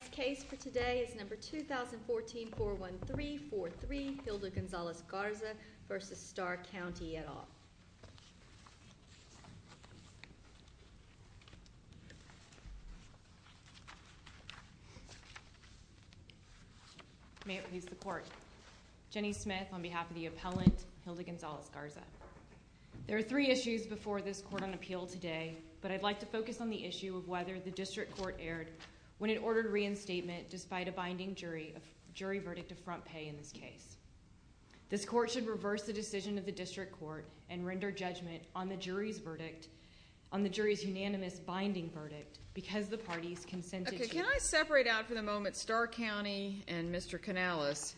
The case for today is number 2014-413-43, Hilda Gonzalez-Garza v. Starr County, et al. May it please the court. Jenny Smith on behalf of the appellant, Hilda Gonzalez-Garza. There are three issues before this court on appeal today, but I'd like to focus on the issue of whether the district court erred when it ordered reinstatement despite a binding jury verdict of front pay in this case. This court should reverse the decision of the district court and render judgment on the jury's verdict, on the jury's unanimous binding verdict, because the parties consented to... Okay, can I separate out for the moment Starr County and Mr. Canales?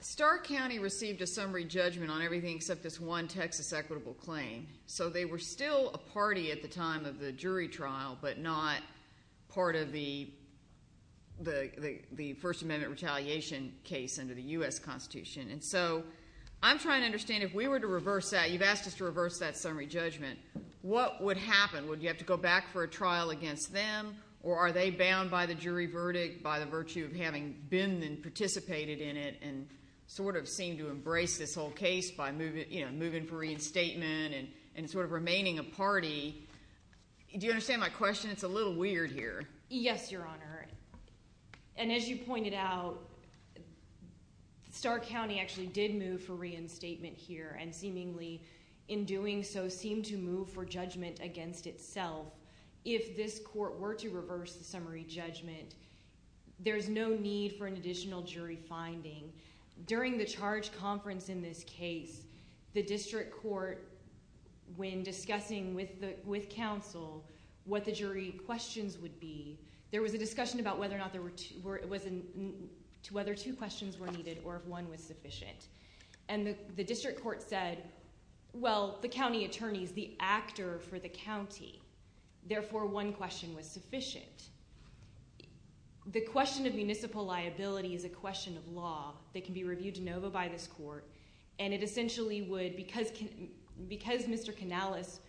Starr County received a summary judgment on everything except this one Texas equitable claim, so they were still a party at the time of the jury trial but not part of the First Amendment retaliation case under the U.S. Constitution, and so I'm trying to understand if we were to reverse that, you've asked us to reverse that summary judgment, what would happen? Would you have to go back for a trial against them, or are they bound by the jury verdict by the virtue of having been and participated in it and sort of seem to embrace this whole case by moving for reinstatement and sort of remaining a party? Do you understand my question? It's a little weird here. Yes, Your Honor, and as you pointed out, Starr County actually did move for reinstatement here and seemingly in doing so seemed to move for judgment against itself. If this court were to reverse the summary judgment, there's no need for an additional jury finding. During the charge conference in this case, the district court, when discussing with counsel what the jury questions would be, there was a discussion about whether two questions were needed or if one was sufficient, and the district court said, well, the county attorney is the actor for the county, therefore one question was sufficient. The question of municipal liability is a question of law that can be reviewed de novo by this court, and it essentially would, because Mr. Canales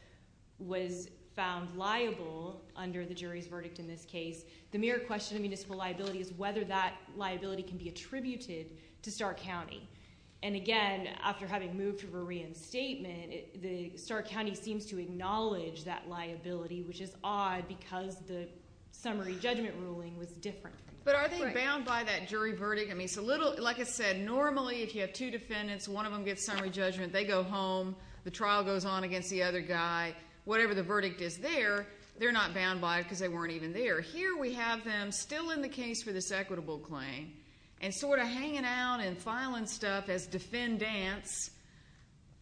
was found liable under the jury's verdict in this case, the mere question of municipal liability is whether that liability can be attributed to Starr County. And again, after having moved for reinstatement, Starr County seems to acknowledge that liability, which is odd because the summary judgment ruling was different. But are they bound by that jury verdict? Like I said, normally if you have two defendants, one of them gets summary judgment, they go home. The trial goes on against the other guy. Whatever the verdict is there, they're not bound by it because they weren't even there. Here we have them still in the case for this equitable claim and sort of hanging out and filing stuff as defendants,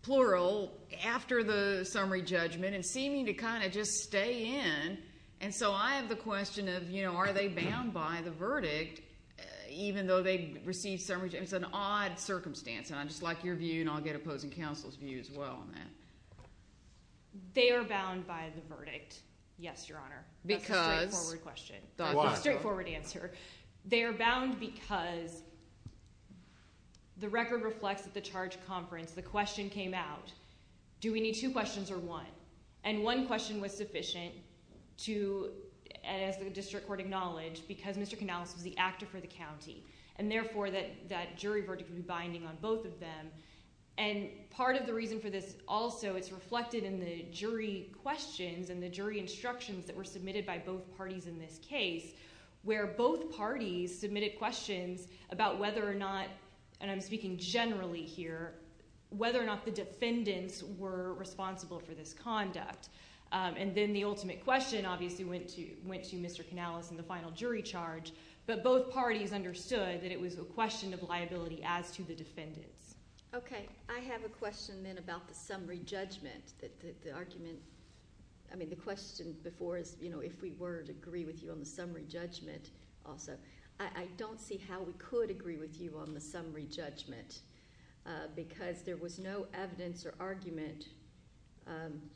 plural, after the summary judgment and seeming to kind of just stay in. And so I have the question of, you know, are they bound by the verdict even though they received summary judgment? It's an odd circumstance, and I'd just like your view, and I'll get opposing counsel's view as well on that. They are bound by the verdict, yes, Your Honor. That's a straightforward question. Why? That's a straightforward answer. They are bound because the record reflects at the charge conference the question came out, do we need two questions or one? And one question was sufficient to, as the district court acknowledged, because Mr. Canales was the actor for the county, and therefore that jury verdict would be binding on both of them. And part of the reason for this also is reflected in the jury questions and the jury instructions that were submitted by both parties in this case, where both parties submitted questions about whether or not, and I'm speaking generally here, whether or not the defendants were responsible for this conduct. And then the ultimate question obviously went to Mr. Canales in the final jury charge, but both parties understood that it was a question of liability as to the defendants. Okay. I have a question then about the summary judgment, the argument. I mean, the question before is, you know, if we were to agree with you on the summary judgment also. I don't see how we could agree with you on the summary judgment because there was no evidence or argument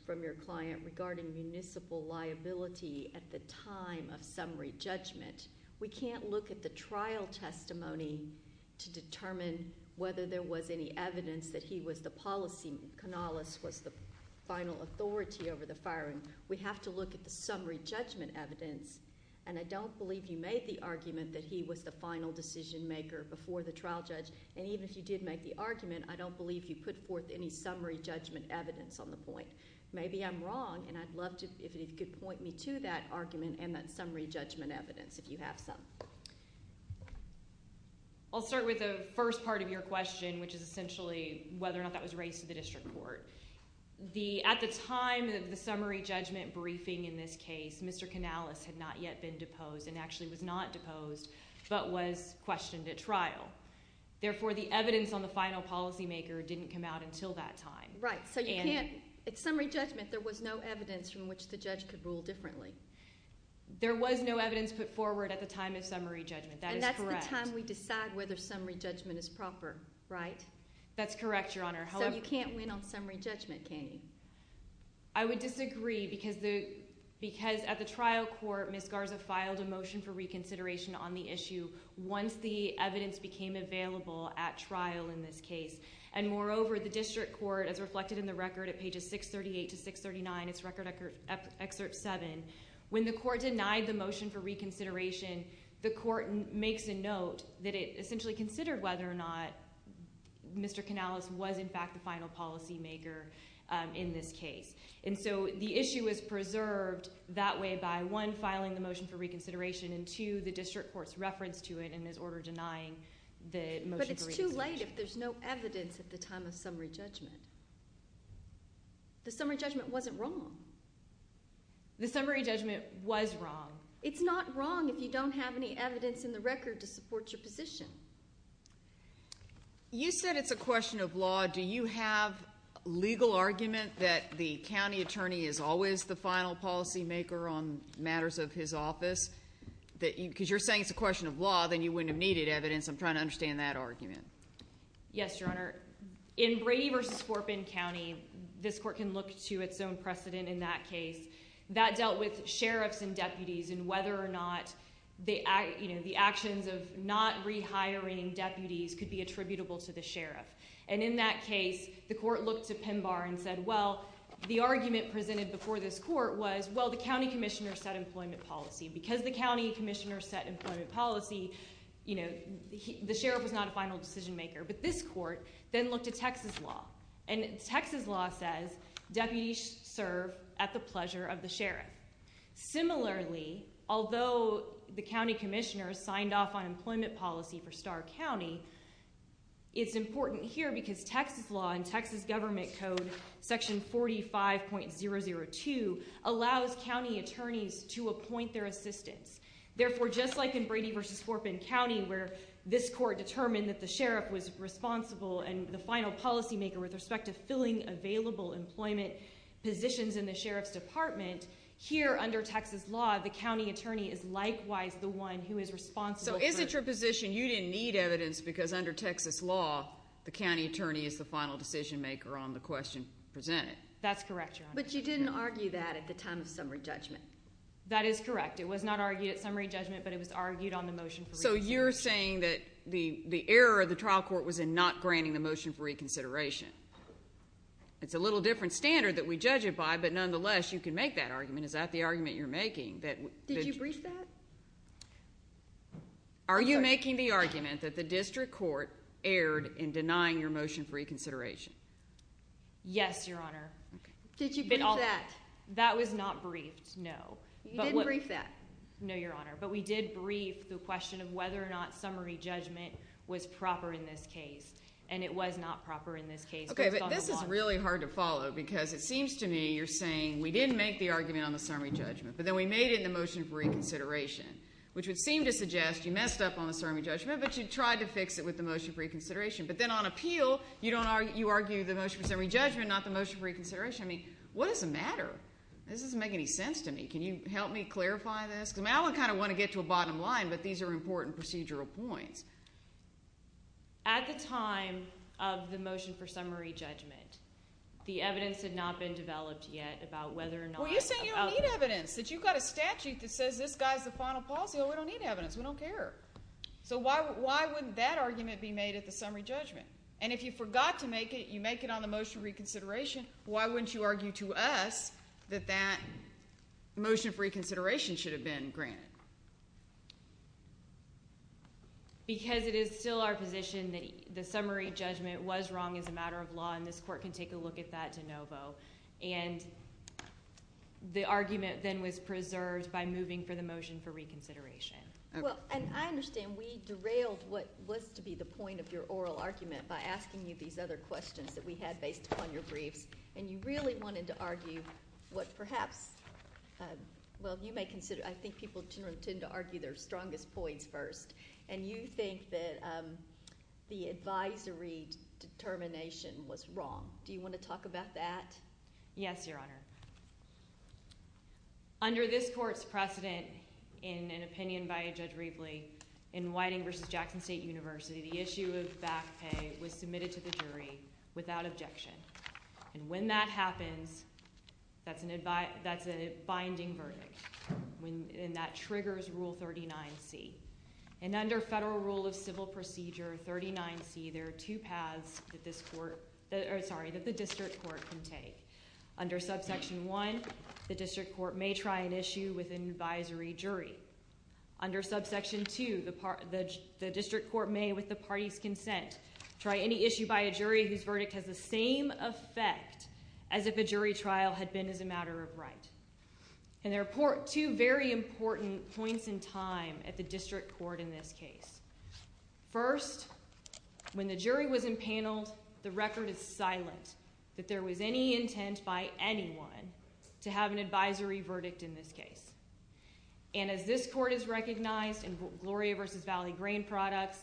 from your client regarding municipal liability at the time of summary judgment. We can't look at the trial testimony to determine whether there was any evidence that he was the policyman, Canales was the final authority over the firing. We have to look at the summary judgment evidence, and I don't believe you made the argument that he was the final decision maker before the trial judge. And even if you did make the argument, I don't believe you put forth any summary judgment evidence on the point. Maybe I'm wrong, and I'd love to – if you could point me to that argument and that summary judgment evidence, if you have some. I'll start with the first part of your question, which is essentially whether or not that was raised to the district court. At the time of the summary judgment briefing in this case, Mr. Canales had not yet been deposed and actually was not deposed but was questioned at trial. Therefore, the evidence on the final policymaker didn't come out until that time. Right. So you can't – at summary judgment, there was no evidence from which the judge could rule differently. There was no evidence put forward at the time of summary judgment. That is correct. And that's the time we decide whether summary judgment is proper, right? That's correct, Your Honor. So you can't win on summary judgment, can you? I would disagree because at the trial court, Ms. Garza filed a motion for reconsideration on the issue once the evidence became available at trial in this case. And moreover, the district court, as reflected in the record at pages 638 to 639, it's Record Excerpt 7, when the court denied the motion for reconsideration, the court makes a note that it essentially considered whether or not Mr. Canales was in fact the final policymaker in this case. And so the issue is preserved that way by, one, filing the motion for reconsideration and, two, the district court's reference to it and his order denying the motion for reconsideration. It's not right if there's no evidence at the time of summary judgment. The summary judgment wasn't wrong. The summary judgment was wrong. It's not wrong if you don't have any evidence in the record to support your position. You said it's a question of law. Do you have legal argument that the county attorney is always the final policymaker on matters of his office? Because you're saying it's a question of law, then you wouldn't have needed evidence. I'm trying to understand that argument. Yes, Your Honor. In Brady v. Corbin County, this court can look to its own precedent in that case. That dealt with sheriffs and deputies and whether or not the actions of not rehiring deputies could be attributable to the sheriff. And in that case, the court looked to PEMBAR and said, well, the argument presented before this court was, well, the county commissioner said employment policy. Because the county commissioner said employment policy, you know, the sheriff was not a final decisionmaker. But this court then looked at Texas law, and Texas law says deputies serve at the pleasure of the sheriff. Similarly, although the county commissioner signed off on employment policy for Starr County, it's important here because Texas law and Texas government code section 45.002 allows county attorneys to appoint their assistants. Therefore, just like in Brady v. Corbin County where this court determined that the sheriff was responsible and the final policymaker with respect to filling available employment positions in the sheriff's department, here under Texas law, the county attorney is likewise the one who is responsible. So is it your position you didn't need evidence because under Texas law, the county attorney is the final decisionmaker on the question presented? That's correct, Your Honor. But you didn't argue that at the time of summary judgment. That is correct. It was not argued at summary judgment, but it was argued on the motion for reconsideration. So you're saying that the error of the trial court was in not granting the motion for reconsideration. It's a little different standard that we judge it by, but nonetheless, you can make that argument. Is that the argument you're making? Did you brief that? Are you making the argument that the district court erred in denying your motion for reconsideration? Yes, Your Honor. Did you brief that? That was not briefed, no. You didn't brief that? No, Your Honor, but we did brief the question of whether or not summary judgment was proper in this case, and it was not proper in this case. Okay, but this is really hard to follow because it seems to me you're saying we didn't make the argument on the summary judgment, but then we made it in the motion for reconsideration, which would seem to suggest you messed up on the summary judgment, but you tried to fix it with the motion for reconsideration. But then on appeal, you argue the motion for summary judgment, not the motion for reconsideration. I mean, what does it matter? This doesn't make any sense to me. Can you help me clarify this? I kind of want to get to a bottom line, but these are important procedural points. At the time of the motion for summary judgment, the evidence had not been developed yet about whether or not... Well, you're saying you don't need evidence, that you've got a statute that says this guy's the final policy. Well, we don't need evidence. We don't care. So why wouldn't that argument be made at the summary judgment? And if you forgot to make it, you make it on the motion for reconsideration, why wouldn't you argue to us that that motion for reconsideration should have been granted? Because it is still our position that the summary judgment was wrong as a matter of law, and this court can take a look at that de novo. And the argument then was preserved by moving for the motion for reconsideration. Well, and I understand we derailed what was to be the point of your oral argument by asking you these other questions that we had based upon your briefs, and you really wanted to argue what perhaps, well, you may consider... Judges tend to argue their strongest points first. And you think that the advisory determination was wrong. Do you want to talk about that? Yes, Your Honor. Under this court's precedent, in an opinion by Judge Rivley, in Whiting v. Jackson State University, the issue of back pay was submitted to the jury without objection. And when that happens, that's a binding verdict. And that triggers Rule 39C. And under Federal Rule of Civil Procedure 39C, there are two paths that the district court can take. Under Subsection 1, the district court may try an issue with an advisory jury. Under Subsection 2, the district court may, with the party's consent, try any issue by a jury whose verdict has the same effect as if a jury trial had been as a matter of right. And there are two very important points in time at the district court in this case. First, when the jury was empaneled, the record is silent that there was any intent by anyone to have an advisory verdict in this case. And as this court has recognized in Gloria v. Valley Grain Products,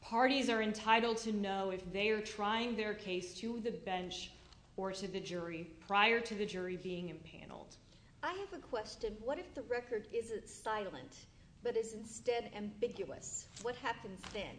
parties are entitled to know if they are trying their case to the bench or to the jury prior to the jury being empaneled. I have a question. What if the record isn't silent but is instead ambiguous? What happens then?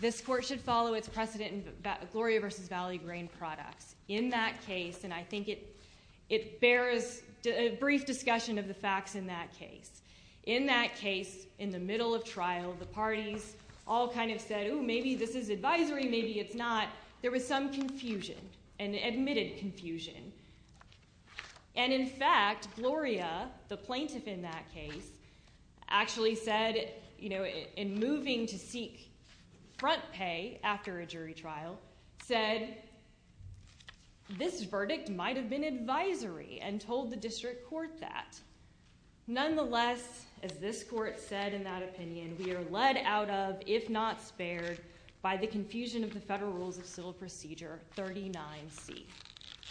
This court should follow its precedent in Gloria v. Valley Grain Products. In that case, and I think it bears a brief discussion of the facts in that case, in that case, in the middle of trial, the parties all kind of said, oh, maybe this is advisory, maybe it's not. There was some confusion, an admitted confusion. And in fact, Gloria, the plaintiff in that case, actually said, you know, in moving to seek front pay after a jury trial, said, this verdict might have been advisory and told the district court that. Nonetheless, as this court said in that opinion, we are led out of, if not spared, by the confusion of the Federal Rules of Civil Procedure 39C.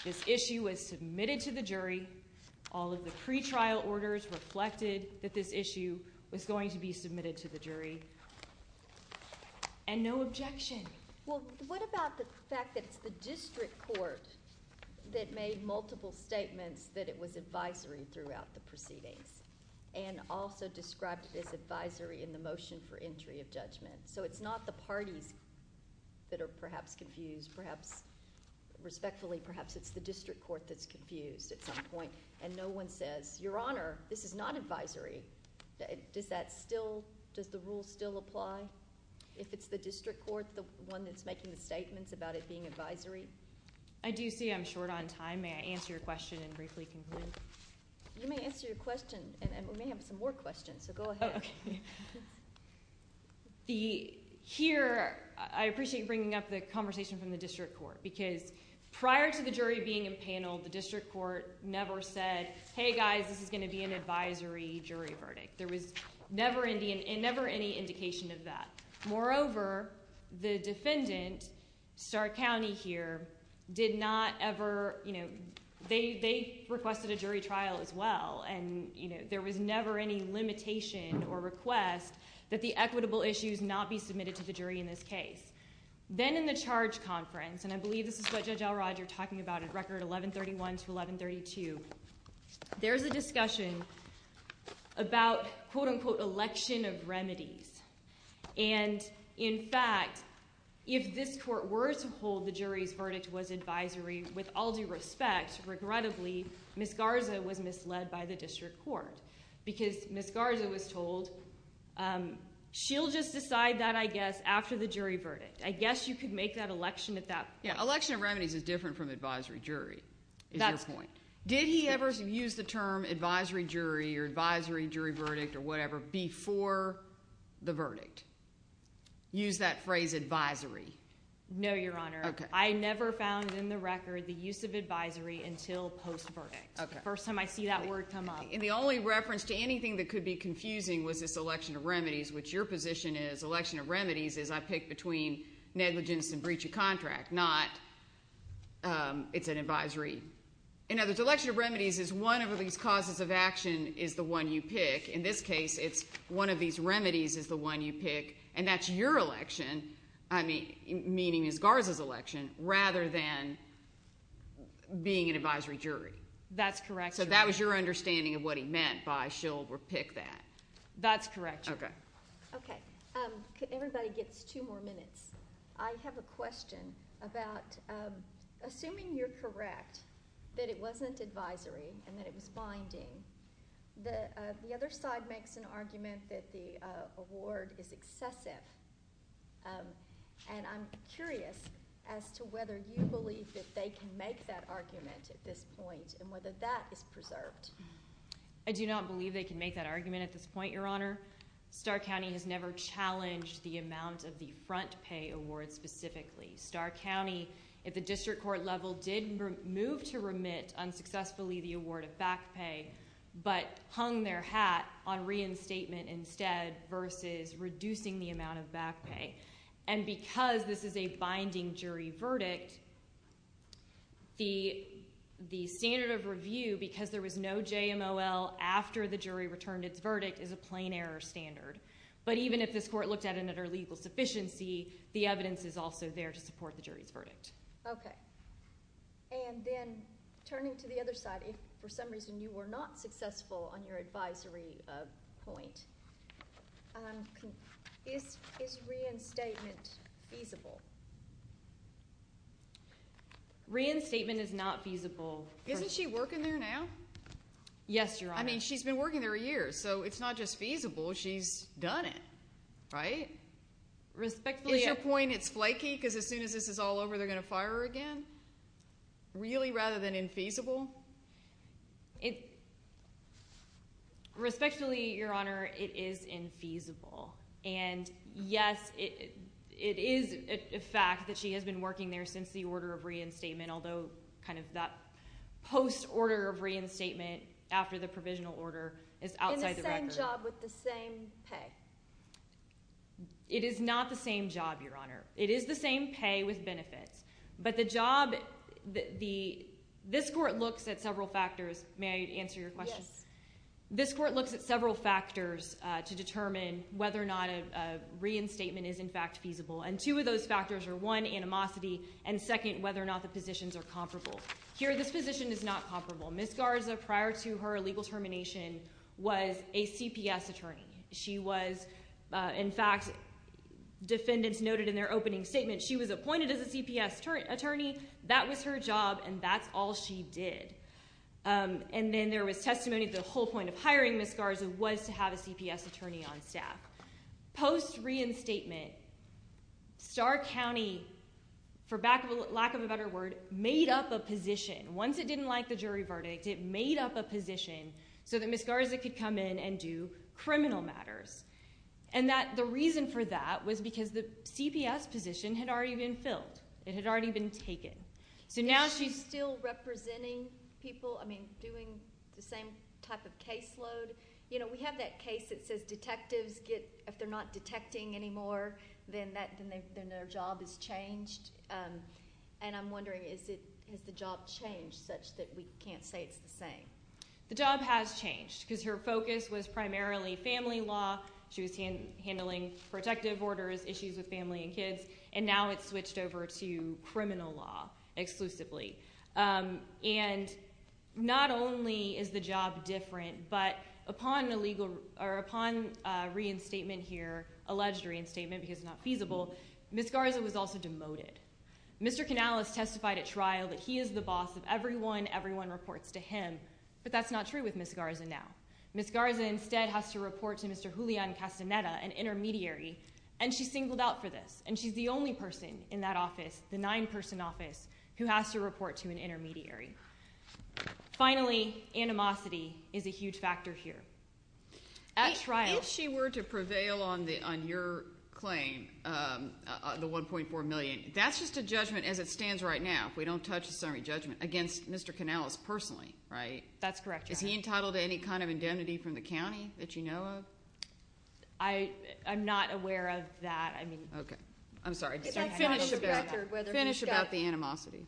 This issue was submitted to the jury. All of the pretrial orders reflected that this issue was going to be submitted to the jury. And no objection. Well, what about the fact that it's the district court that made multiple statements that it was advisory throughout the proceedings and also described it as advisory in the motion for entry of judgment? So it's not the parties that are perhaps confused, perhaps respectfully, perhaps it's the district court that's confused at some point, and no one says, Your Honor, this is not advisory. Does that still, does the rule still apply? If it's the district court, the one that's making the statements about it being advisory? I do see I'm short on time. May I answer your question and briefly conclude? You may answer your question. And we may have some more questions, so go ahead. Okay. Here, I appreciate you bringing up the conversation from the district court because prior to the jury being in panel, the district court never said, Hey, guys, this is going to be an advisory jury verdict. There was never any indication of that. Moreover, the defendant, Stark County here, did not ever, you know, they requested a jury trial as well, and, you know, there was never any limitation or request that the equitable issues not be submitted to the jury in this case. Then in the charge conference, and I believe this is what Judge Elrod, you're talking about, record 1131 to 1132, there's a discussion about, quote, unquote, election of remedies. And, in fact, if this court were to hold the jury's verdict was advisory, with all due respect, regrettably, Ms. Garza was misled by the district court because Ms. Garza was told she'll just decide that, I guess, after the jury verdict. I guess you could make that election at that point. Yeah, election of remedies is different from advisory jury, is your point. Did he ever use the term advisory jury or advisory jury verdict or whatever before the verdict? Use that phrase advisory. No, Your Honor. I never found in the record the use of advisory until post-verdict. First time I see that word come up. And the only reference to anything that could be confusing was this election of remedies, which your position is election of remedies is I pick between negligence and breach of contract, not it's an advisory. And now this election of remedies is one of these causes of action is the one you pick. In this case, it's one of these remedies is the one you pick, and that's your election, meaning Ms. Garza's election, rather than being an advisory jury. That's correct, Your Honor. So that was your understanding of what he meant by she'll pick that. That's correct, Your Honor. Okay. Okay. Everybody gets two more minutes. I have a question about assuming you're correct that it wasn't advisory and that it was binding, the other side makes an argument that the award is excessive, and I'm curious as to whether you believe that they can make that argument at this point and whether that is preserved. I do not believe they can make that argument at this point, Your Honor. Starr County has never challenged the amount of the front pay award specifically. Starr County, at the district court level, did move to remit unsuccessfully the award of back pay but hung their hat on reinstatement instead versus reducing the amount of back pay. And because this is a binding jury verdict, the standard of review, because there was no JMOL after the jury returned its verdict, is a plain error standard. But even if this court looked at it under legal sufficiency, the evidence is also there to support the jury's verdict. Okay. And then turning to the other side, if for some reason you were not successful on your advisory point, is reinstatement feasible? Reinstatement is not feasible. Isn't she working there now? Yes, Your Honor. I mean, she's been working there a year, so it's not just feasible. She's done it, right? Respectfully, Your Honor. Is your point it's flaky because as soon as this is all over, they're going to fire her again? Really, rather than infeasible? Respectfully, Your Honor, it is infeasible. And, yes, it is a fact that she has been working there since the order of reinstatement, although kind of that post-order of reinstatement after the provisional order is outside the record. In the same job with the same pay. It is not the same job, Your Honor. It is the same pay with benefits. But the job, this court looks at several factors. May I answer your question? Yes. This court looks at several factors to determine whether or not a reinstatement is, in fact, feasible. And two of those factors are, one, animosity, and, second, whether or not the positions are comparable. Here, this position is not comparable. Ms. Garza, prior to her legal termination, was a CPS attorney. She was, in fact, defendants noted in their opening statement, she was appointed as a CPS attorney, that was her job, and that's all she did. And then there was testimony of the whole point of hiring Ms. Garza was to have a CPS attorney on staff. Post-reinstatement, Starr County, for lack of a better word, made up a position. Once it didn't like the jury verdict, it made up a position so that Ms. Garza could come in and do criminal matters. And the reason for that was because the CPS position had already been filled. It had already been taken. So now she's still representing people, I mean, doing the same type of caseload. You know, we have that case that says detectives get, if they're not detecting anymore, then their job is changed. And I'm wondering, has the job changed such that we can't say it's the same? The job has changed because her focus was primarily family law. She was handling protective orders, issues with family and kids. And now it's switched over to criminal law exclusively. And not only is the job different, but upon reinstatement here, alleged reinstatement because it's not feasible, Ms. Garza was also demoted. Mr. Canales testified at trial that he is the boss of everyone, everyone reports to him. But that's not true with Ms. Garza now. Ms. Garza instead has to report to Mr. Julian Castaneda, an intermediary, and she's singled out for this. And she's the only person in that office, the nine-person office, who has to report to an intermediary. Finally, animosity is a huge factor here. At trial. If she were to prevail on your claim, the $1.4 million, that's just a judgment as it stands right now, if we don't touch the summary judgment, against Mr. Canales personally, right? That's correct, Your Honor. Is he entitled to any kind of indemnity from the county that you know of? I'm not aware of that. Okay. I'm sorry. Finish about the animosity.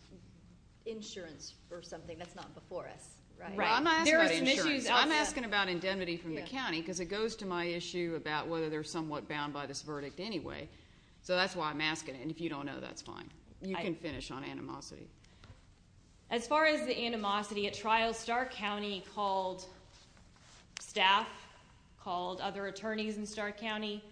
Insurance or something. That's not before us, right? I'm not asking about insurance. I'm asking about indemnity from the county because it goes to my issue about whether they're somewhat bound by this verdict anyway. So that's why I'm asking. And if you don't know, that's fine. You can finish on animosity. As far as the animosity at trial, Stark County called staff, called other attorneys in Stark County,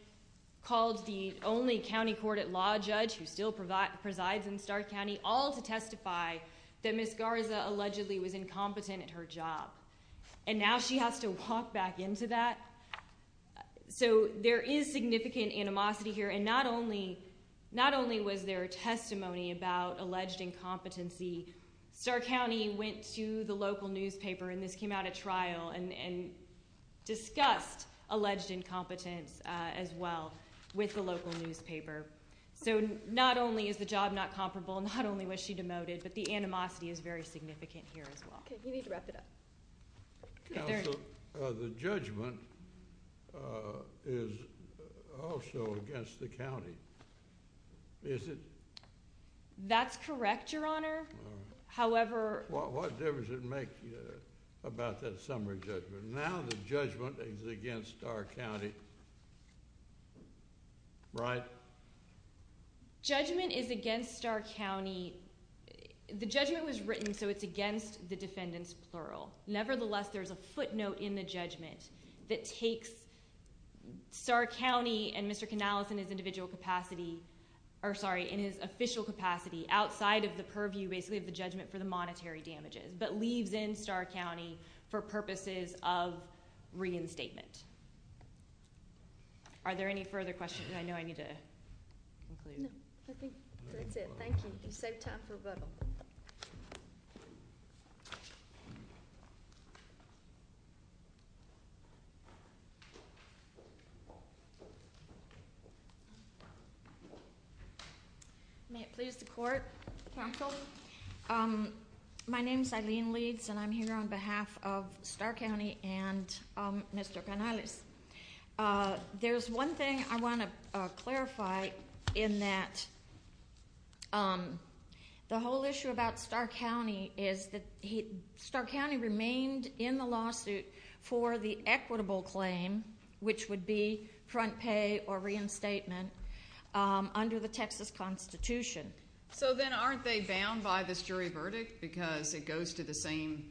called the only county court at law judge who still presides in Stark County, all to testify that Ms. Garza allegedly was incompetent at her job. And now she has to walk back into that? So there is significant animosity here. And not only was there testimony about alleged incompetency, Stark County went to the local newspaper, and this came out at trial, and discussed alleged incompetence as well with the local newspaper. So not only is the job not comparable, not only was she demoted, but the animosity is very significant here as well. Okay. You need to wrap it up. Counsel, the judgment is also against the county, is it? That's correct, Your Honor. What difference does it make about that summary judgment? Now the judgment is against Stark County, right? Judgment is against Stark County. The judgment was written so it's against the defendants, plural. Nevertheless, there's a footnote in the judgment that takes Stark County and Mr. Canales in his individual capacity, or sorry, in his official capacity, outside of the purview basically of the judgment for the monetary damages, but leaves in Stark County for purposes of reinstatement. Are there any further questions? I know I need to conclude. No, I think that's it. Thank you. You saved time for rebuttal. Thank you. May it please the court, counsel? My name's Eileen Leeds, and I'm here on behalf of Stark County and Mr. Canales. There's one thing I want to clarify in that the whole issue about Stark County is that Stark County remains in the lawsuit for the equitable claim, which would be front pay or reinstatement, under the Texas Constitution. So then aren't they bound by this jury verdict because it goes to the same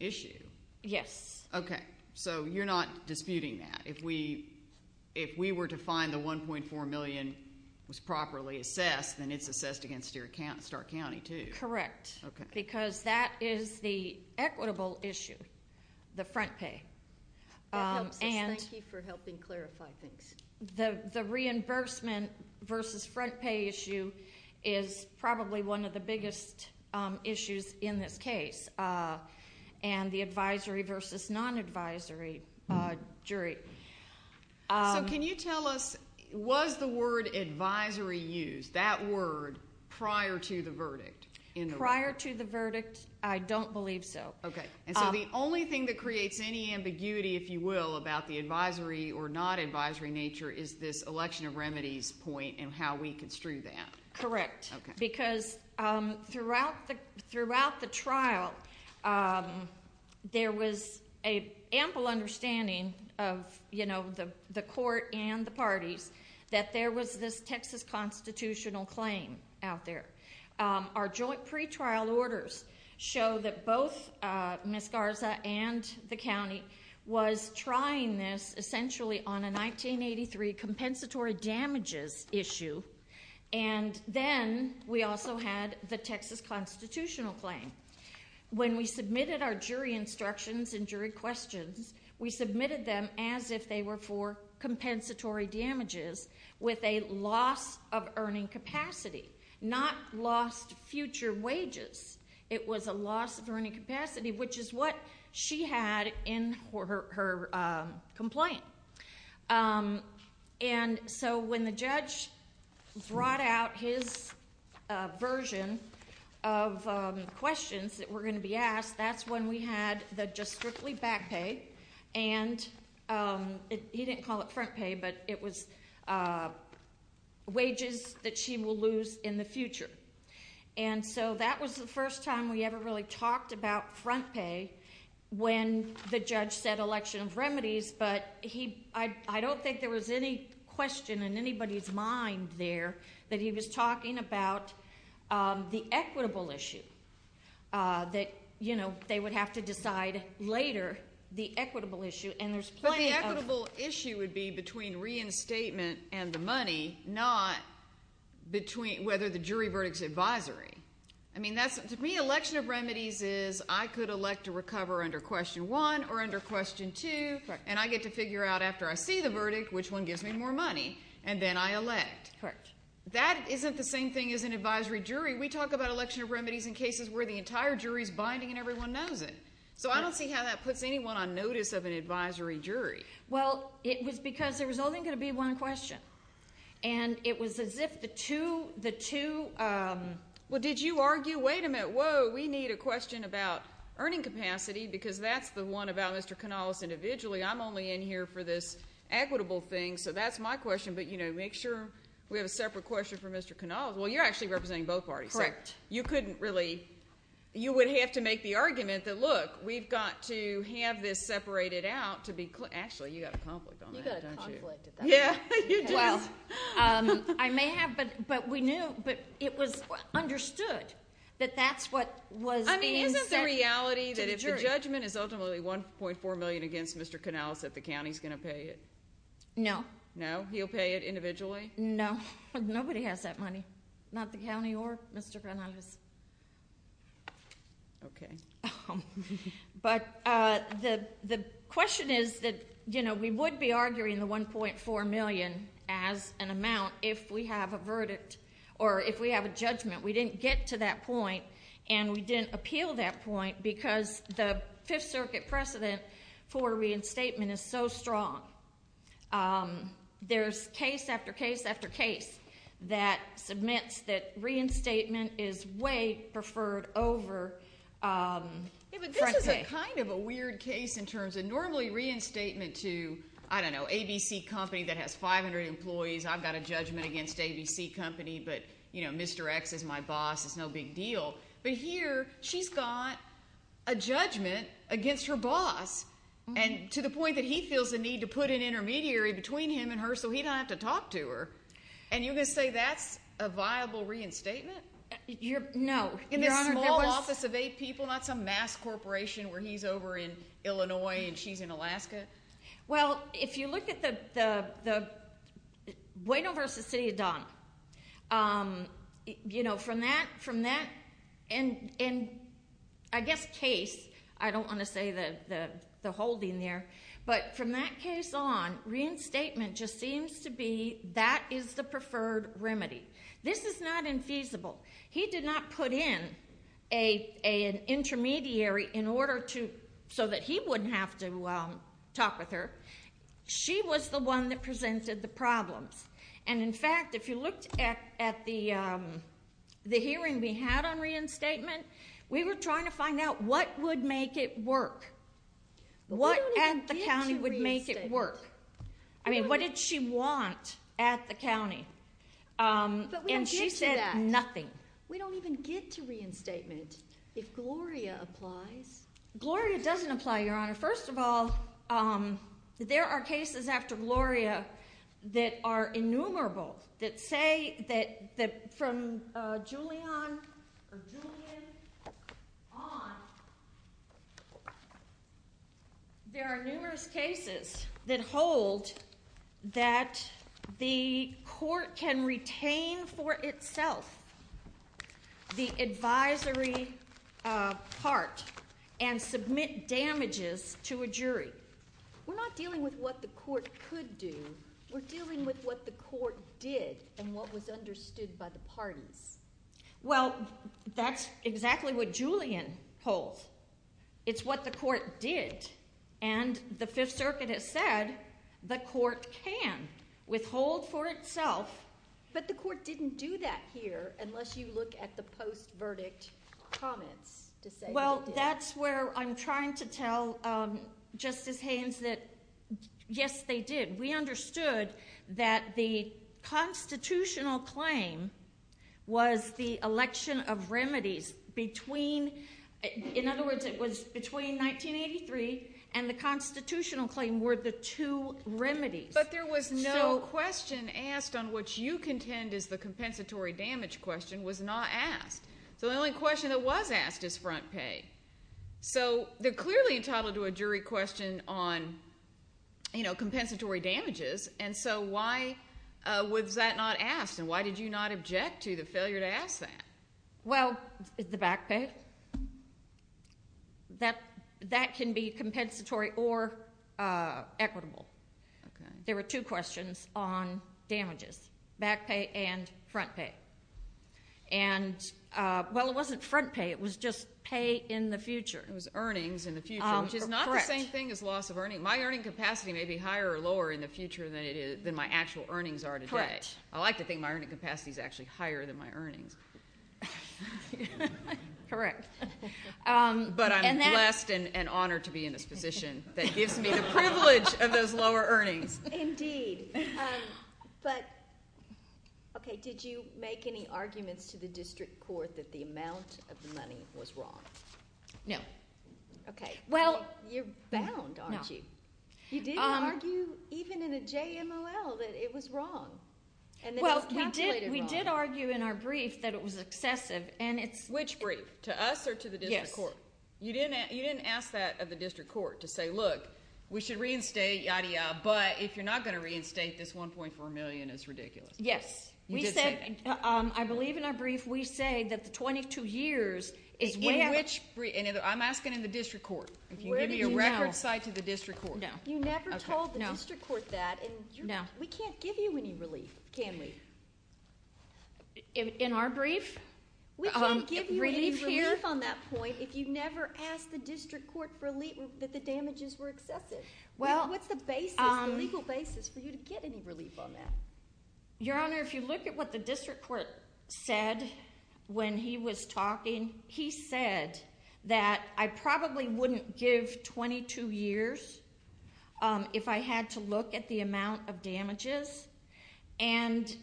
issue? Yes. Okay. So you're not disputing that. If we were to find the $1.4 million was properly assessed, then it's assessed against Stark County too. Correct. Okay. Because that is the equitable issue, the front pay. That helps us. Thank you for helping clarify things. The reimbursement versus front pay issue is probably one of the biggest issues in this case, and the advisory versus non-advisory jury. So can you tell us, was the word advisory used, that word, prior to the verdict? Prior to the verdict, I don't believe so. Okay. And so the only thing that creates any ambiguity, if you will, about the advisory or non-advisory nature is this election of remedies point and how we construe that. Correct. Because throughout the trial, there was an ample understanding of the court and the parties that there was this Texas constitutional claim out there. Our joint pretrial orders show that both Miss Garza and the county was trying this essentially on a 1983 compensatory damages issue, and then we also had the Texas constitutional claim. When we submitted our jury instructions and jury questions, we submitted them as if they were for compensatory damages with a loss of earning capacity, not lost future wages. It was a loss of earning capacity, which is what she had in her complaint. And so when the judge brought out his version of questions that were going to be asked, that's when we had the just strictly back pay, and he didn't call it front pay, but it was wages that she will lose in the future. And so that was the first time we ever really talked about front pay when the judge said election of remedies, but I don't think there was any question in anybody's mind there that he was talking about the equitable issue, that they would have to decide later the equitable issue. But the equitable issue would be between reinstatement and the money, not whether the jury verdict is advisory. I mean, to me, election of remedies is I could elect to recover under question one or under question two, and I get to figure out after I see the verdict which one gives me more money, and then I elect. That isn't the same thing as an advisory jury. We talk about election of remedies in cases where the entire jury is binding and everyone knows it. So I don't see how that puts anyone on notice of an advisory jury. Well, it was because there was only going to be one question, and it was as if the two ñ Well, did you argue, wait a minute, whoa, we need a question about earning capacity because that's the one about Mr. Canales individually. I'm only in here for this equitable thing, so that's my question, but, you know, make sure we have a separate question for Mr. Canales. Well, you're actually representing both parties. Correct. But you couldn't really ñ you would have to make the argument that, look, we've got to have this separated out to be ñ actually, you've got a conflict on that, don't you? You've got a conflict. Yeah, you do. Well, I may have, but we knew, but it was understood that that's what was being said to the jury. I mean, isn't the reality that if the judgment is ultimately 1.4 million against Mr. Canales that the county's going to pay it? No. No? He'll pay it individually? No. Nobody has that money, not the county or Mr. Canales. Okay. But the question is that, you know, we would be arguing the 1.4 million as an amount if we have a verdict or if we have a judgment. We didn't get to that point and we didn't appeal that point because the Fifth Circuit precedent for reinstatement is so strong. There's case after case after case that submits that reinstatement is way preferred over front pay. Yeah, but this is kind of a weird case in terms of normally reinstatement to, I don't know, ABC Company that has 500 employees. I've got a judgment against ABC Company, but, you know, Mr. X is my boss. It's no big deal. But here she's got a judgment against her boss to the point that he feels the need to put an intermediary between him and her so he doesn't have to talk to her, and you're going to say that's a viable reinstatement? No. In this small office of eight people, not some mass corporation where he's over in Illinois and she's in Alaska? Well, if you look at the Bueno v. City of Don, you know, from that, and I guess case, I don't want to say the holding there, but from that case on, reinstatement just seems to be that is the preferred remedy. This is not infeasible. He did not put in an intermediary in order to, so that he wouldn't have to talk with her. She was the one that presented the problems. And, in fact, if you looked at the hearing we had on reinstatement, we were trying to find out what would make it work. What at the county would make it work? I mean, what did she want at the county? But we don't get to that. And she said nothing. We don't even get to reinstatement if Gloria applies. Gloria doesn't apply, Your Honor. First of all, there are cases after Gloria that are innumerable that say that from Julian on, there are numerous cases that hold that the court can retain for itself the advisory part and submit damages to a jury. We're not dealing with what the court could do. We're dealing with what the court did and what was understood by the parties. Well, that's exactly what Julian holds. It's what the court did. And the Fifth Circuit has said the court can withhold for itself. But the court didn't do that here unless you look at the post-verdict comments to say that it did. Well, that's where I'm trying to tell Justice Haynes that, yes, they did. We understood that the constitutional claim was the election of remedies between, in other words, it was between 1983 and the constitutional claim were the two remedies. But there was no question asked on which you contend is the compensatory damage question was not asked. So the only question that was asked is front pay. So they're clearly entitled to a jury question on compensatory damages, and so why was that not asked? And why did you not object to the failure to ask that? Well, the back pay. That can be compensatory or equitable. There were two questions on damages, back pay and front pay. And, well, it wasn't front pay. It was just pay in the future. It was earnings in the future, which is not the same thing as loss of earnings. My earning capacity may be higher or lower in the future than my actual earnings are today. I like to think my earning capacity is actually higher than my earnings. Correct. But I'm blessed and honored to be in this position that gives me the privilege of those lower earnings. Indeed. But, okay, did you make any arguments to the district court that the amount of the money was wrong? No. Okay. Well, you're bound, aren't you? No. You didn't argue even in a JMOL that it was wrong and that it was calculated wrong. Well, we did argue in our brief that it was excessive. Which brief, to us or to the district court? Yes. You didn't ask that of the district court to say, look, we should reinstate, yada, yada, but if you're not going to reinstate, this $1.4 million is ridiculous. Yes. You did say that. I believe in our brief we say that the 22 years is way out. In which brief? I'm asking in the district court. Where do you know? If you give me a record cite to the district court. No. You never told the district court that. No. And we can't give you any relief, can we? In our brief? We can't give you any relief on that point if you never asked the district court that the damages were excessive. What's the basis, the legal basis for you to get any relief on that? Your Honor, if you look at what the district court said when he was talking, he said that I probably wouldn't give 22 years if I had to look at the amount of damages. And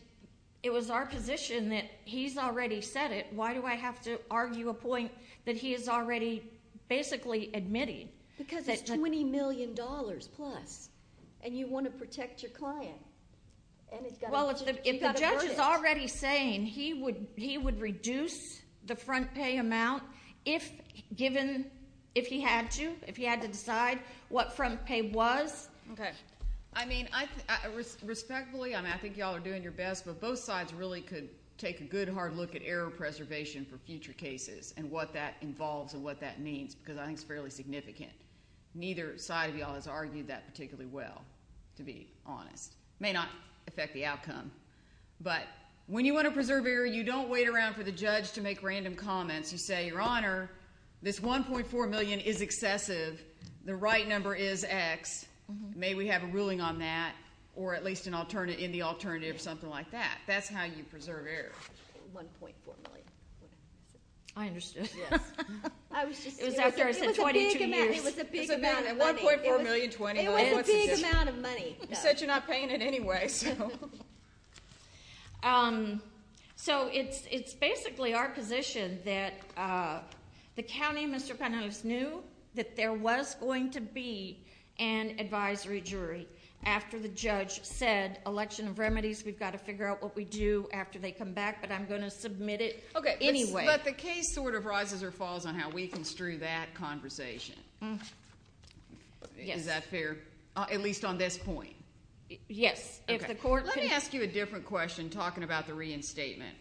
it was our position that he's already said it. Why do I have to argue a point that he is already basically admitting? Because it's $20 million plus, and you want to protect your client. Well, if the judge is already saying he would reduce the front pay amount if given, if he had to, if he had to decide what front pay was. Okay. I mean, respectfully, I think you all are doing your best, but both sides really could take a good hard look at error preservation for future cases and what that involves and what that means, because I think it's fairly significant. Neither side of you all has argued that particularly well, to be honest. It may not affect the outcome. But when you want to preserve error, you don't wait around for the judge to make random comments. You say, Your Honor, this $1.4 million is excessive. The right number is X. May we have a ruling on that or at least in the alternative or something like that. That's how you preserve error. $1.4 million. I understood. Yes. It was after I said 22 years. It was a big amount of money. $1.4 million, $20 million. It was a big amount of money. You said you're not paying it anyway, so. So it's basically our position that the county, Mr. Panales, knew that there was going to be an advisory jury after the judge said, We've got to figure out what we do after they come back, but I'm going to submit it anyway. But the case sort of rises or falls on how we construe that conversation. Is that fair? At least on this point. Yes. Let me ask you a different question talking about the reinstatement.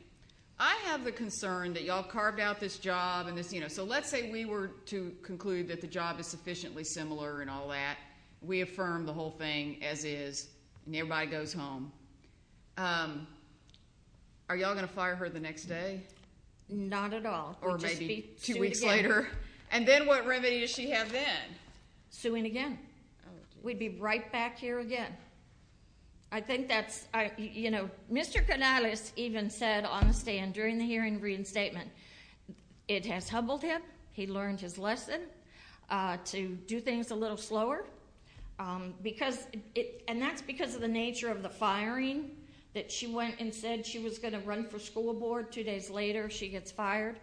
I have the concern that you all carved out this job. So let's say we were to conclude that the job is sufficiently similar and all that. We affirm the whole thing as is, and everybody goes home. Are you all going to fire her the next day? Not at all. Or maybe two weeks later. And then what remedy does she have then? Suing again. We'd be right back here again. I think that's, you know, Mr. Panales even said on the stand during the hearing reinstatement, It has humbled him. He learned his lesson to do things a little slower. And that's because of the nature of the firing that she went and said she was going to run for school board. Two days later, she gets fired.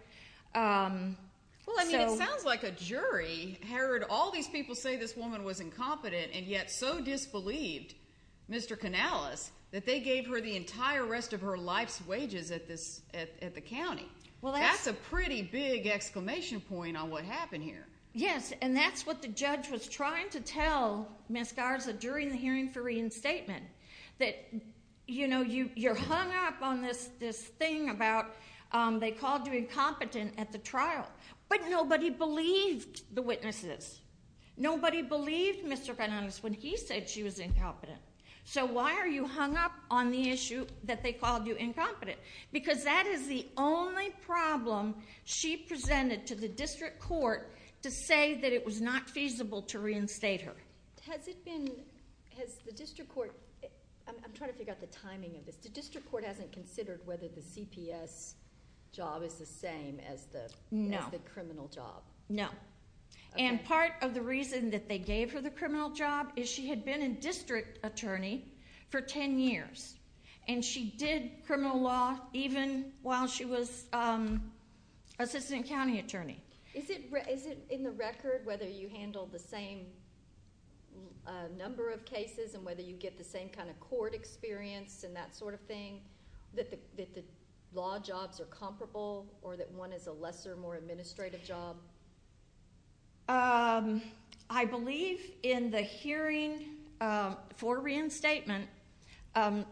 Well, I mean, it sounds like a jury heard all these people say this woman was incompetent and yet so disbelieved, Mr. Panales, that they gave her the entire rest of her life's wages at the county. That's a pretty big exclamation point on what happened here. Yes, and that's what the judge was trying to tell Ms. Garza during the hearing for reinstatement. That, you know, you're hung up on this thing about they called you incompetent at the trial. But nobody believed the witnesses. Nobody believed Mr. Panales when he said she was incompetent. So why are you hung up on the issue that they called you incompetent? Because that is the only problem she presented to the district court to say that it was not feasible to reinstate her. Has it been, has the district court, I'm trying to figure out the timing of this. The district court hasn't considered whether the CPS job is the same as the criminal job. No. And part of the reason that they gave her the criminal job is she had been a district attorney for ten years. And she did criminal law even while she was assistant county attorney. Is it in the record whether you handle the same number of cases and whether you get the same kind of court experience and that sort of thing, that the law jobs are comparable or that one is a lesser, more administrative job? I believe in the hearing for reinstatement,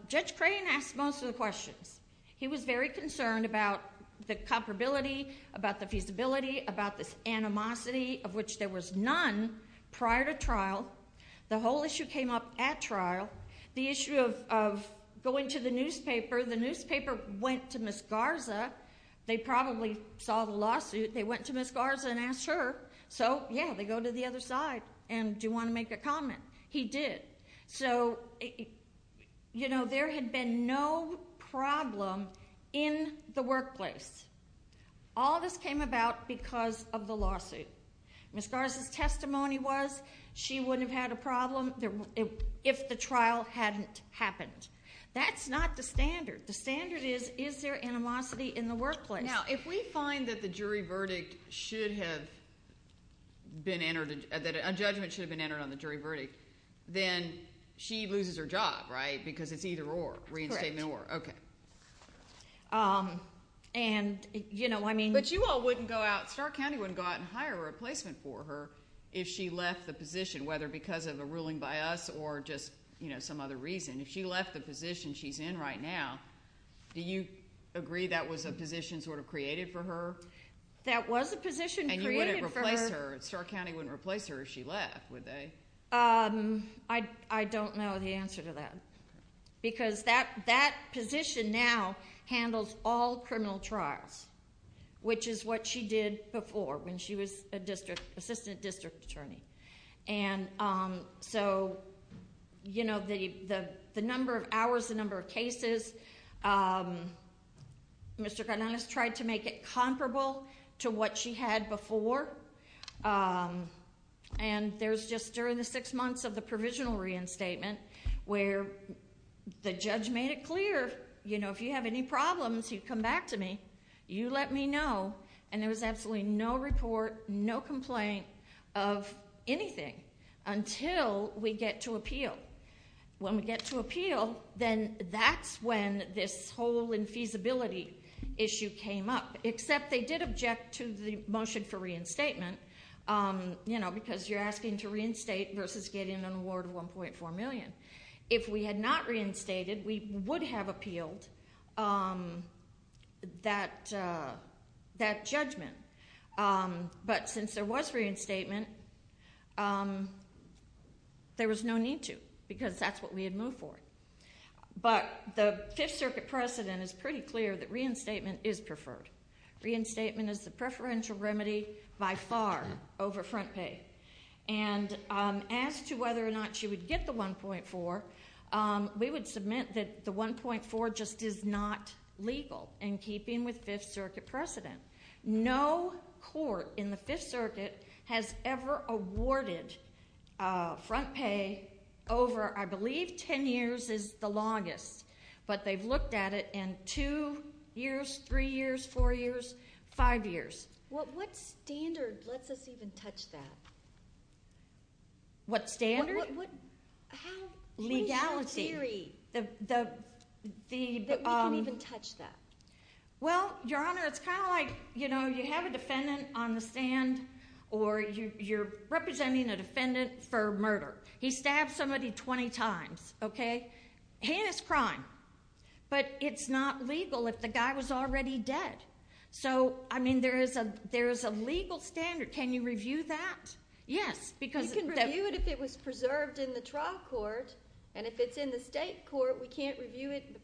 Judge Crane asked most of the questions. He was very concerned about the comparability, about the feasibility, about this animosity of which there was none prior to trial. The issue of going to the newspaper. The newspaper went to Ms. Garza. They probably saw the lawsuit. They went to Ms. Garza and asked her. So, yeah, they go to the other side. And do you want to make a comment? He did. So, you know, there had been no problem in the workplace. All of this came about because of the lawsuit. Ms. Garza's testimony was she wouldn't have had a problem if the trial hadn't happened. That's not the standard. The standard is, is there animosity in the workplace? Now, if we find that the jury verdict should have been entered, that a judgment should have been entered on the jury verdict, then she loses her job, right, because it's either or, reinstatement or. Correct. Okay. And, you know, I mean. But you all wouldn't go out. Stark County wouldn't go out and hire a replacement for her if she left the position, whether because of a ruling by us or just, you know, some other reason. If she left the position she's in right now, do you agree that was a position sort of created for her? That was a position created for her. And you wouldn't replace her. Stark County wouldn't replace her if she left, would they? I don't know the answer to that. Because that position now handles all criminal trials, which is what she did before when she was a district, assistant district attorney. And so, you know, the number of hours, the number of cases, Mr. The judge made it clear, you know, if you have any problems, you come back to me. You let me know. And there was absolutely no report, no complaint of anything until we get to appeal. When we get to appeal, then that's when this whole infeasibility issue came up. Except they did object to the motion for reinstatement, you know, because you're asking to reinstate versus getting an award of $1.4 million. If we had not reinstated, we would have appealed that judgment. But since there was reinstatement, there was no need to, because that's what we had moved forward. But the Fifth Circuit precedent is pretty clear that reinstatement is preferred. Reinstatement is the preferential remedy by far over front pay. And as to whether or not she would get the $1.4, we would submit that the $1.4 just is not legal, in keeping with Fifth Circuit precedent. No court in the Fifth Circuit has ever awarded front pay over, I believe, ten years is the longest. But they've looked at it, and two years, three years, four years, five years. What standard lets us even touch that? What standard? How is that theory that we can even touch that? Well, Your Honor, it's kind of like, you know, you have a defendant on the stand, or you're representing a defendant for murder. He stabbed somebody 20 times, okay? heinous crime. But it's not legal if the guy was already dead. So, I mean, there is a legal standard. Can you review that? Yes. You can review it if it was preserved in the trial court. And if it's in the state court, we can't review it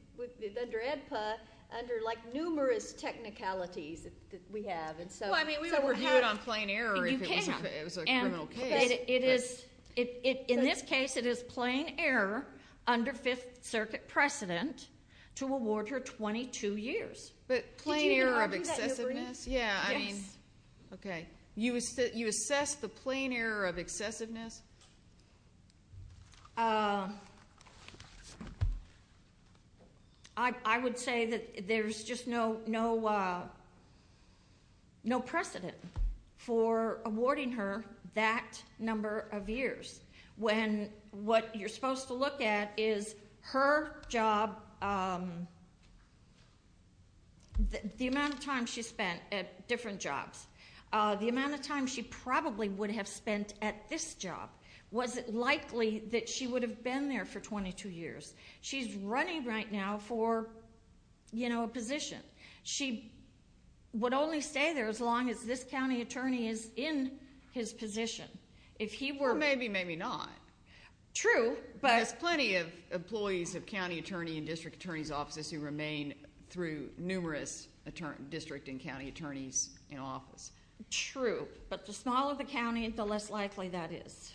under EDPA under, like, numerous technicalities that we have. Well, I mean, we would review it on plain error if it was a criminal case. In this case, it is plain error under Fifth Circuit precedent to award her 22 years. But plain error of excessiveness? Yeah, I mean, okay. You assess the plain error of excessiveness? I would say that there's just no precedent for awarding her that number of years. When what you're supposed to look at is her job, the amount of time she spent at different jobs. The amount of time she probably would have spent at this job. Was it likely that she would have been there for 22 years? She's running right now for, you know, a position. She would only stay there as long as this county attorney is in his position. Well, maybe, maybe not. True. There's plenty of employees of county attorney and district attorney's offices who remain through numerous district and county attorneys in office. True. But the smaller the county, the less likely that is.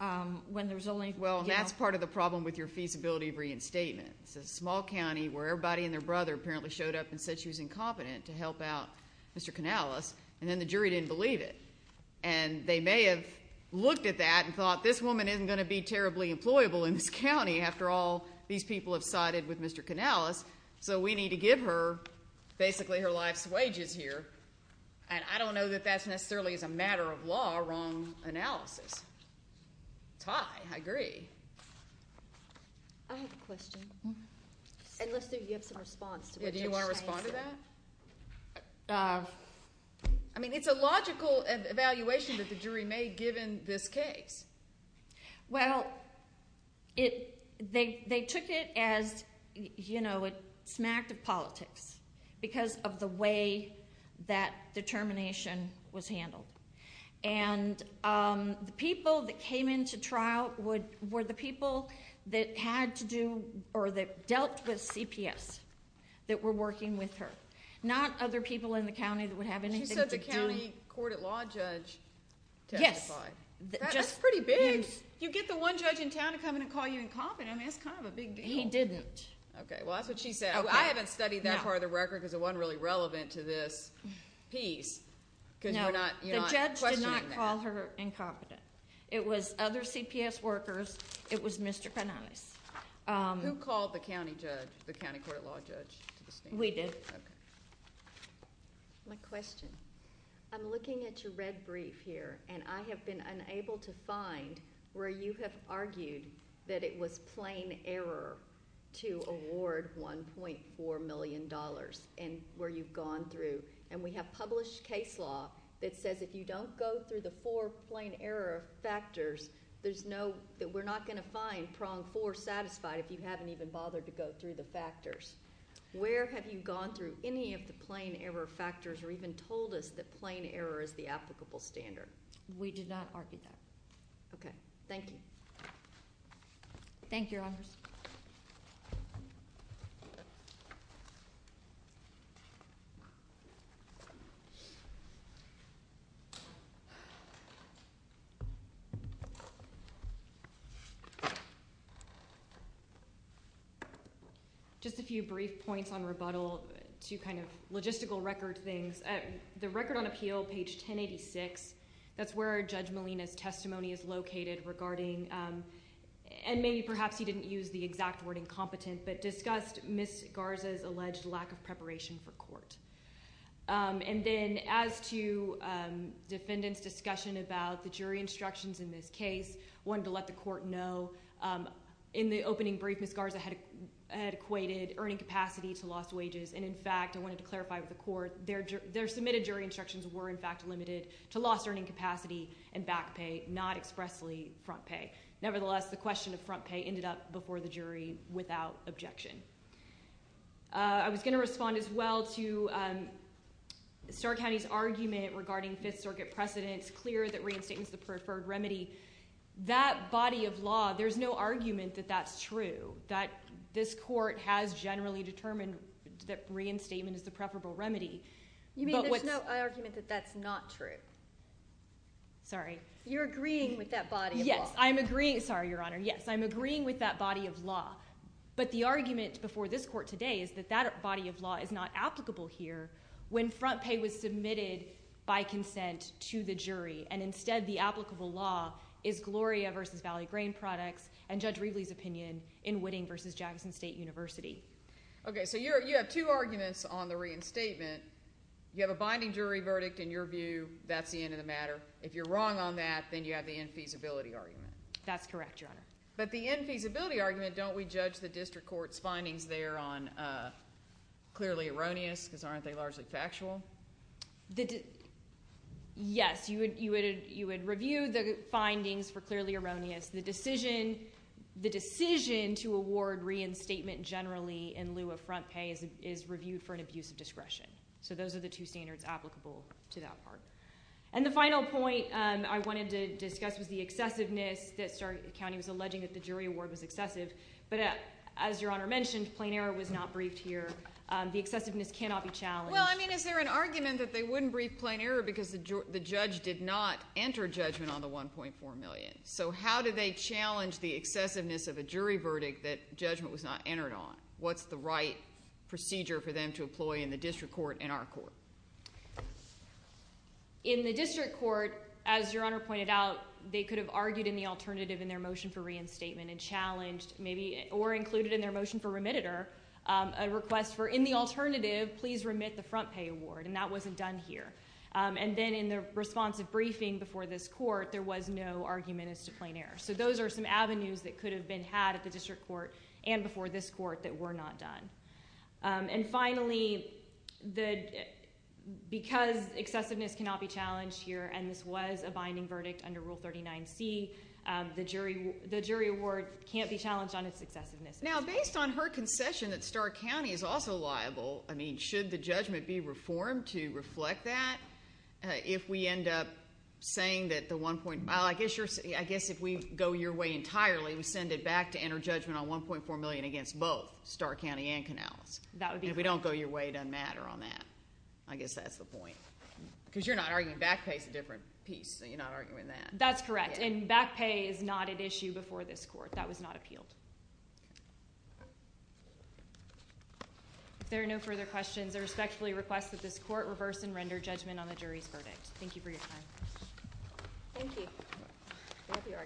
Well, and that's part of the problem with your feasibility of reinstatement. It's a small county where everybody and their brother apparently showed up and said she was incompetent to help out Mr. Canales, and then the jury didn't believe it. And they may have looked at that and thought this woman isn't going to be terribly employable in this county. After all, these people have sided with Mr. Canales, so we need to give her basically her life's wages here. And I don't know that that's necessarily as a matter of law a wrong analysis. It's high. I agree. I have a question. And let's see if you have some response. Do you want to respond to that? I mean, it's a logical evaluation that the jury made given this case. Well, they took it as, you know, it smacked of politics because of the way that determination was handled. And the people that came into trial were the people that had to do or that dealt with CPS that were working with her. Not other people in the county that would have anything to do. She said the county court at law judge testified. Yes. That's pretty big. You get the one judge in town to come in and call you incompetent. I mean, it's kind of a big deal. He didn't. Okay. Well, that's what she said. I haven't studied that part of the record because it wasn't really relevant to this piece because you're not questioning that. No, the judge did not call her incompetent. It was other CPS workers. It was Mr. Canales. Who called the county judge, the county court at law judge? We did. Okay. My question. I'm looking at your red brief here, and I have been unable to find where you have argued that it was plain error to award $1.4 million, and where you've gone through. And we have published case law that says if you don't go through the four plain error factors, we're not going to find prong four satisfied if you haven't even bothered to go through the factors. Where have you gone through any of the plain error factors or even told us that plain error is the applicable standard? We did not argue that. Okay. Thank you, Your Honors. Just a few brief points on rebuttal to kind of logistical record things. The record on appeal, page 1086, that's where Judge Molina's testimony is located regarding and maybe perhaps he didn't use the exact word incompetent, but discussed Ms. Garza's alleged lack of preparation for court. And then as to defendant's discussion about the jury instructions in this case, I wanted to let the court know in the opening brief Ms. Garza had equated earning capacity to lost wages. And, in fact, I wanted to clarify with the court their submitted jury instructions were, in fact, limited to lost earning capacity and back pay, not expressly front pay. Nevertheless, the question of front pay ended up before the jury without objection. I was going to respond as well to Starr County's argument regarding Fifth Circuit precedents, clear that reinstatement is the preferred remedy. That body of law, there's no argument that that's true, that this court has generally determined that reinstatement is the preferable remedy. You mean there's no argument that that's not true? Sorry. You're agreeing with that body of law? Yes, I'm agreeing. Sorry, Your Honor. Yes, I'm agreeing with that body of law. But the argument before this court today is that that body of law is not applicable here when front pay was submitted by consent to the jury. And, instead, the applicable law is Gloria v. Valley Grain Products and Judge Reveley's opinion in Whitting v. Jackson State University. Okay, so you have two arguments on the reinstatement. You have a binding jury verdict in your view, that's the end of the matter. If you're wrong on that, then you have the infeasibility argument. That's correct, Your Honor. But the infeasibility argument, don't we judge the district court's findings there on clearly erroneous because aren't they largely factual? Yes, you would review the findings for clearly erroneous. The decision to award reinstatement generally in lieu of front pay is reviewed for an abuse of discretion. So those are the two standards applicable to that part. And the final point I wanted to discuss was the excessiveness that Starkey County was alleging that the jury award was excessive. But, as Your Honor mentioned, plain error was not briefed here. The excessiveness cannot be challenged. Well, I mean, is there an argument that they wouldn't brief plain error because the judge did not enter judgment on the $1.4 million? So how do they challenge the excessiveness of a jury verdict that judgment was not entered on? What's the right procedure for them to employ in the district court and our court? In the district court, as Your Honor pointed out, they could have argued in the alternative in their motion for reinstatement and challenged maybe or included in their motion for remittitor a request for, in the alternative, please remit the front pay award. And that wasn't done here. And then in the responsive briefing before this court, there was no argument as to plain error. So those are some avenues that could have been had at the district court and before this court that were not done. And finally, because excessiveness cannot be challenged here, and this was a binding verdict under Rule 39C, the jury award can't be challenged on its excessiveness. Now, based on her concession that Starkey County is also liable, I mean, should the judgment be reformed to reflect that? If we end up saying that the 1.5, I guess if we go your way entirely, we send it back to enter judgment on 1.4 million against both Starkey County and Canales. That would be correct. And if we don't go your way, it doesn't matter on that. I guess that's the point. Because you're not arguing back pay is a different piece, so you're not arguing that. That's correct. And back pay is not at issue before this court. That was not appealed. Okay. If there are no further questions, I respectfully request that this court reverse and render judgment on the jury's verdict. Thank you for your time. Thank you.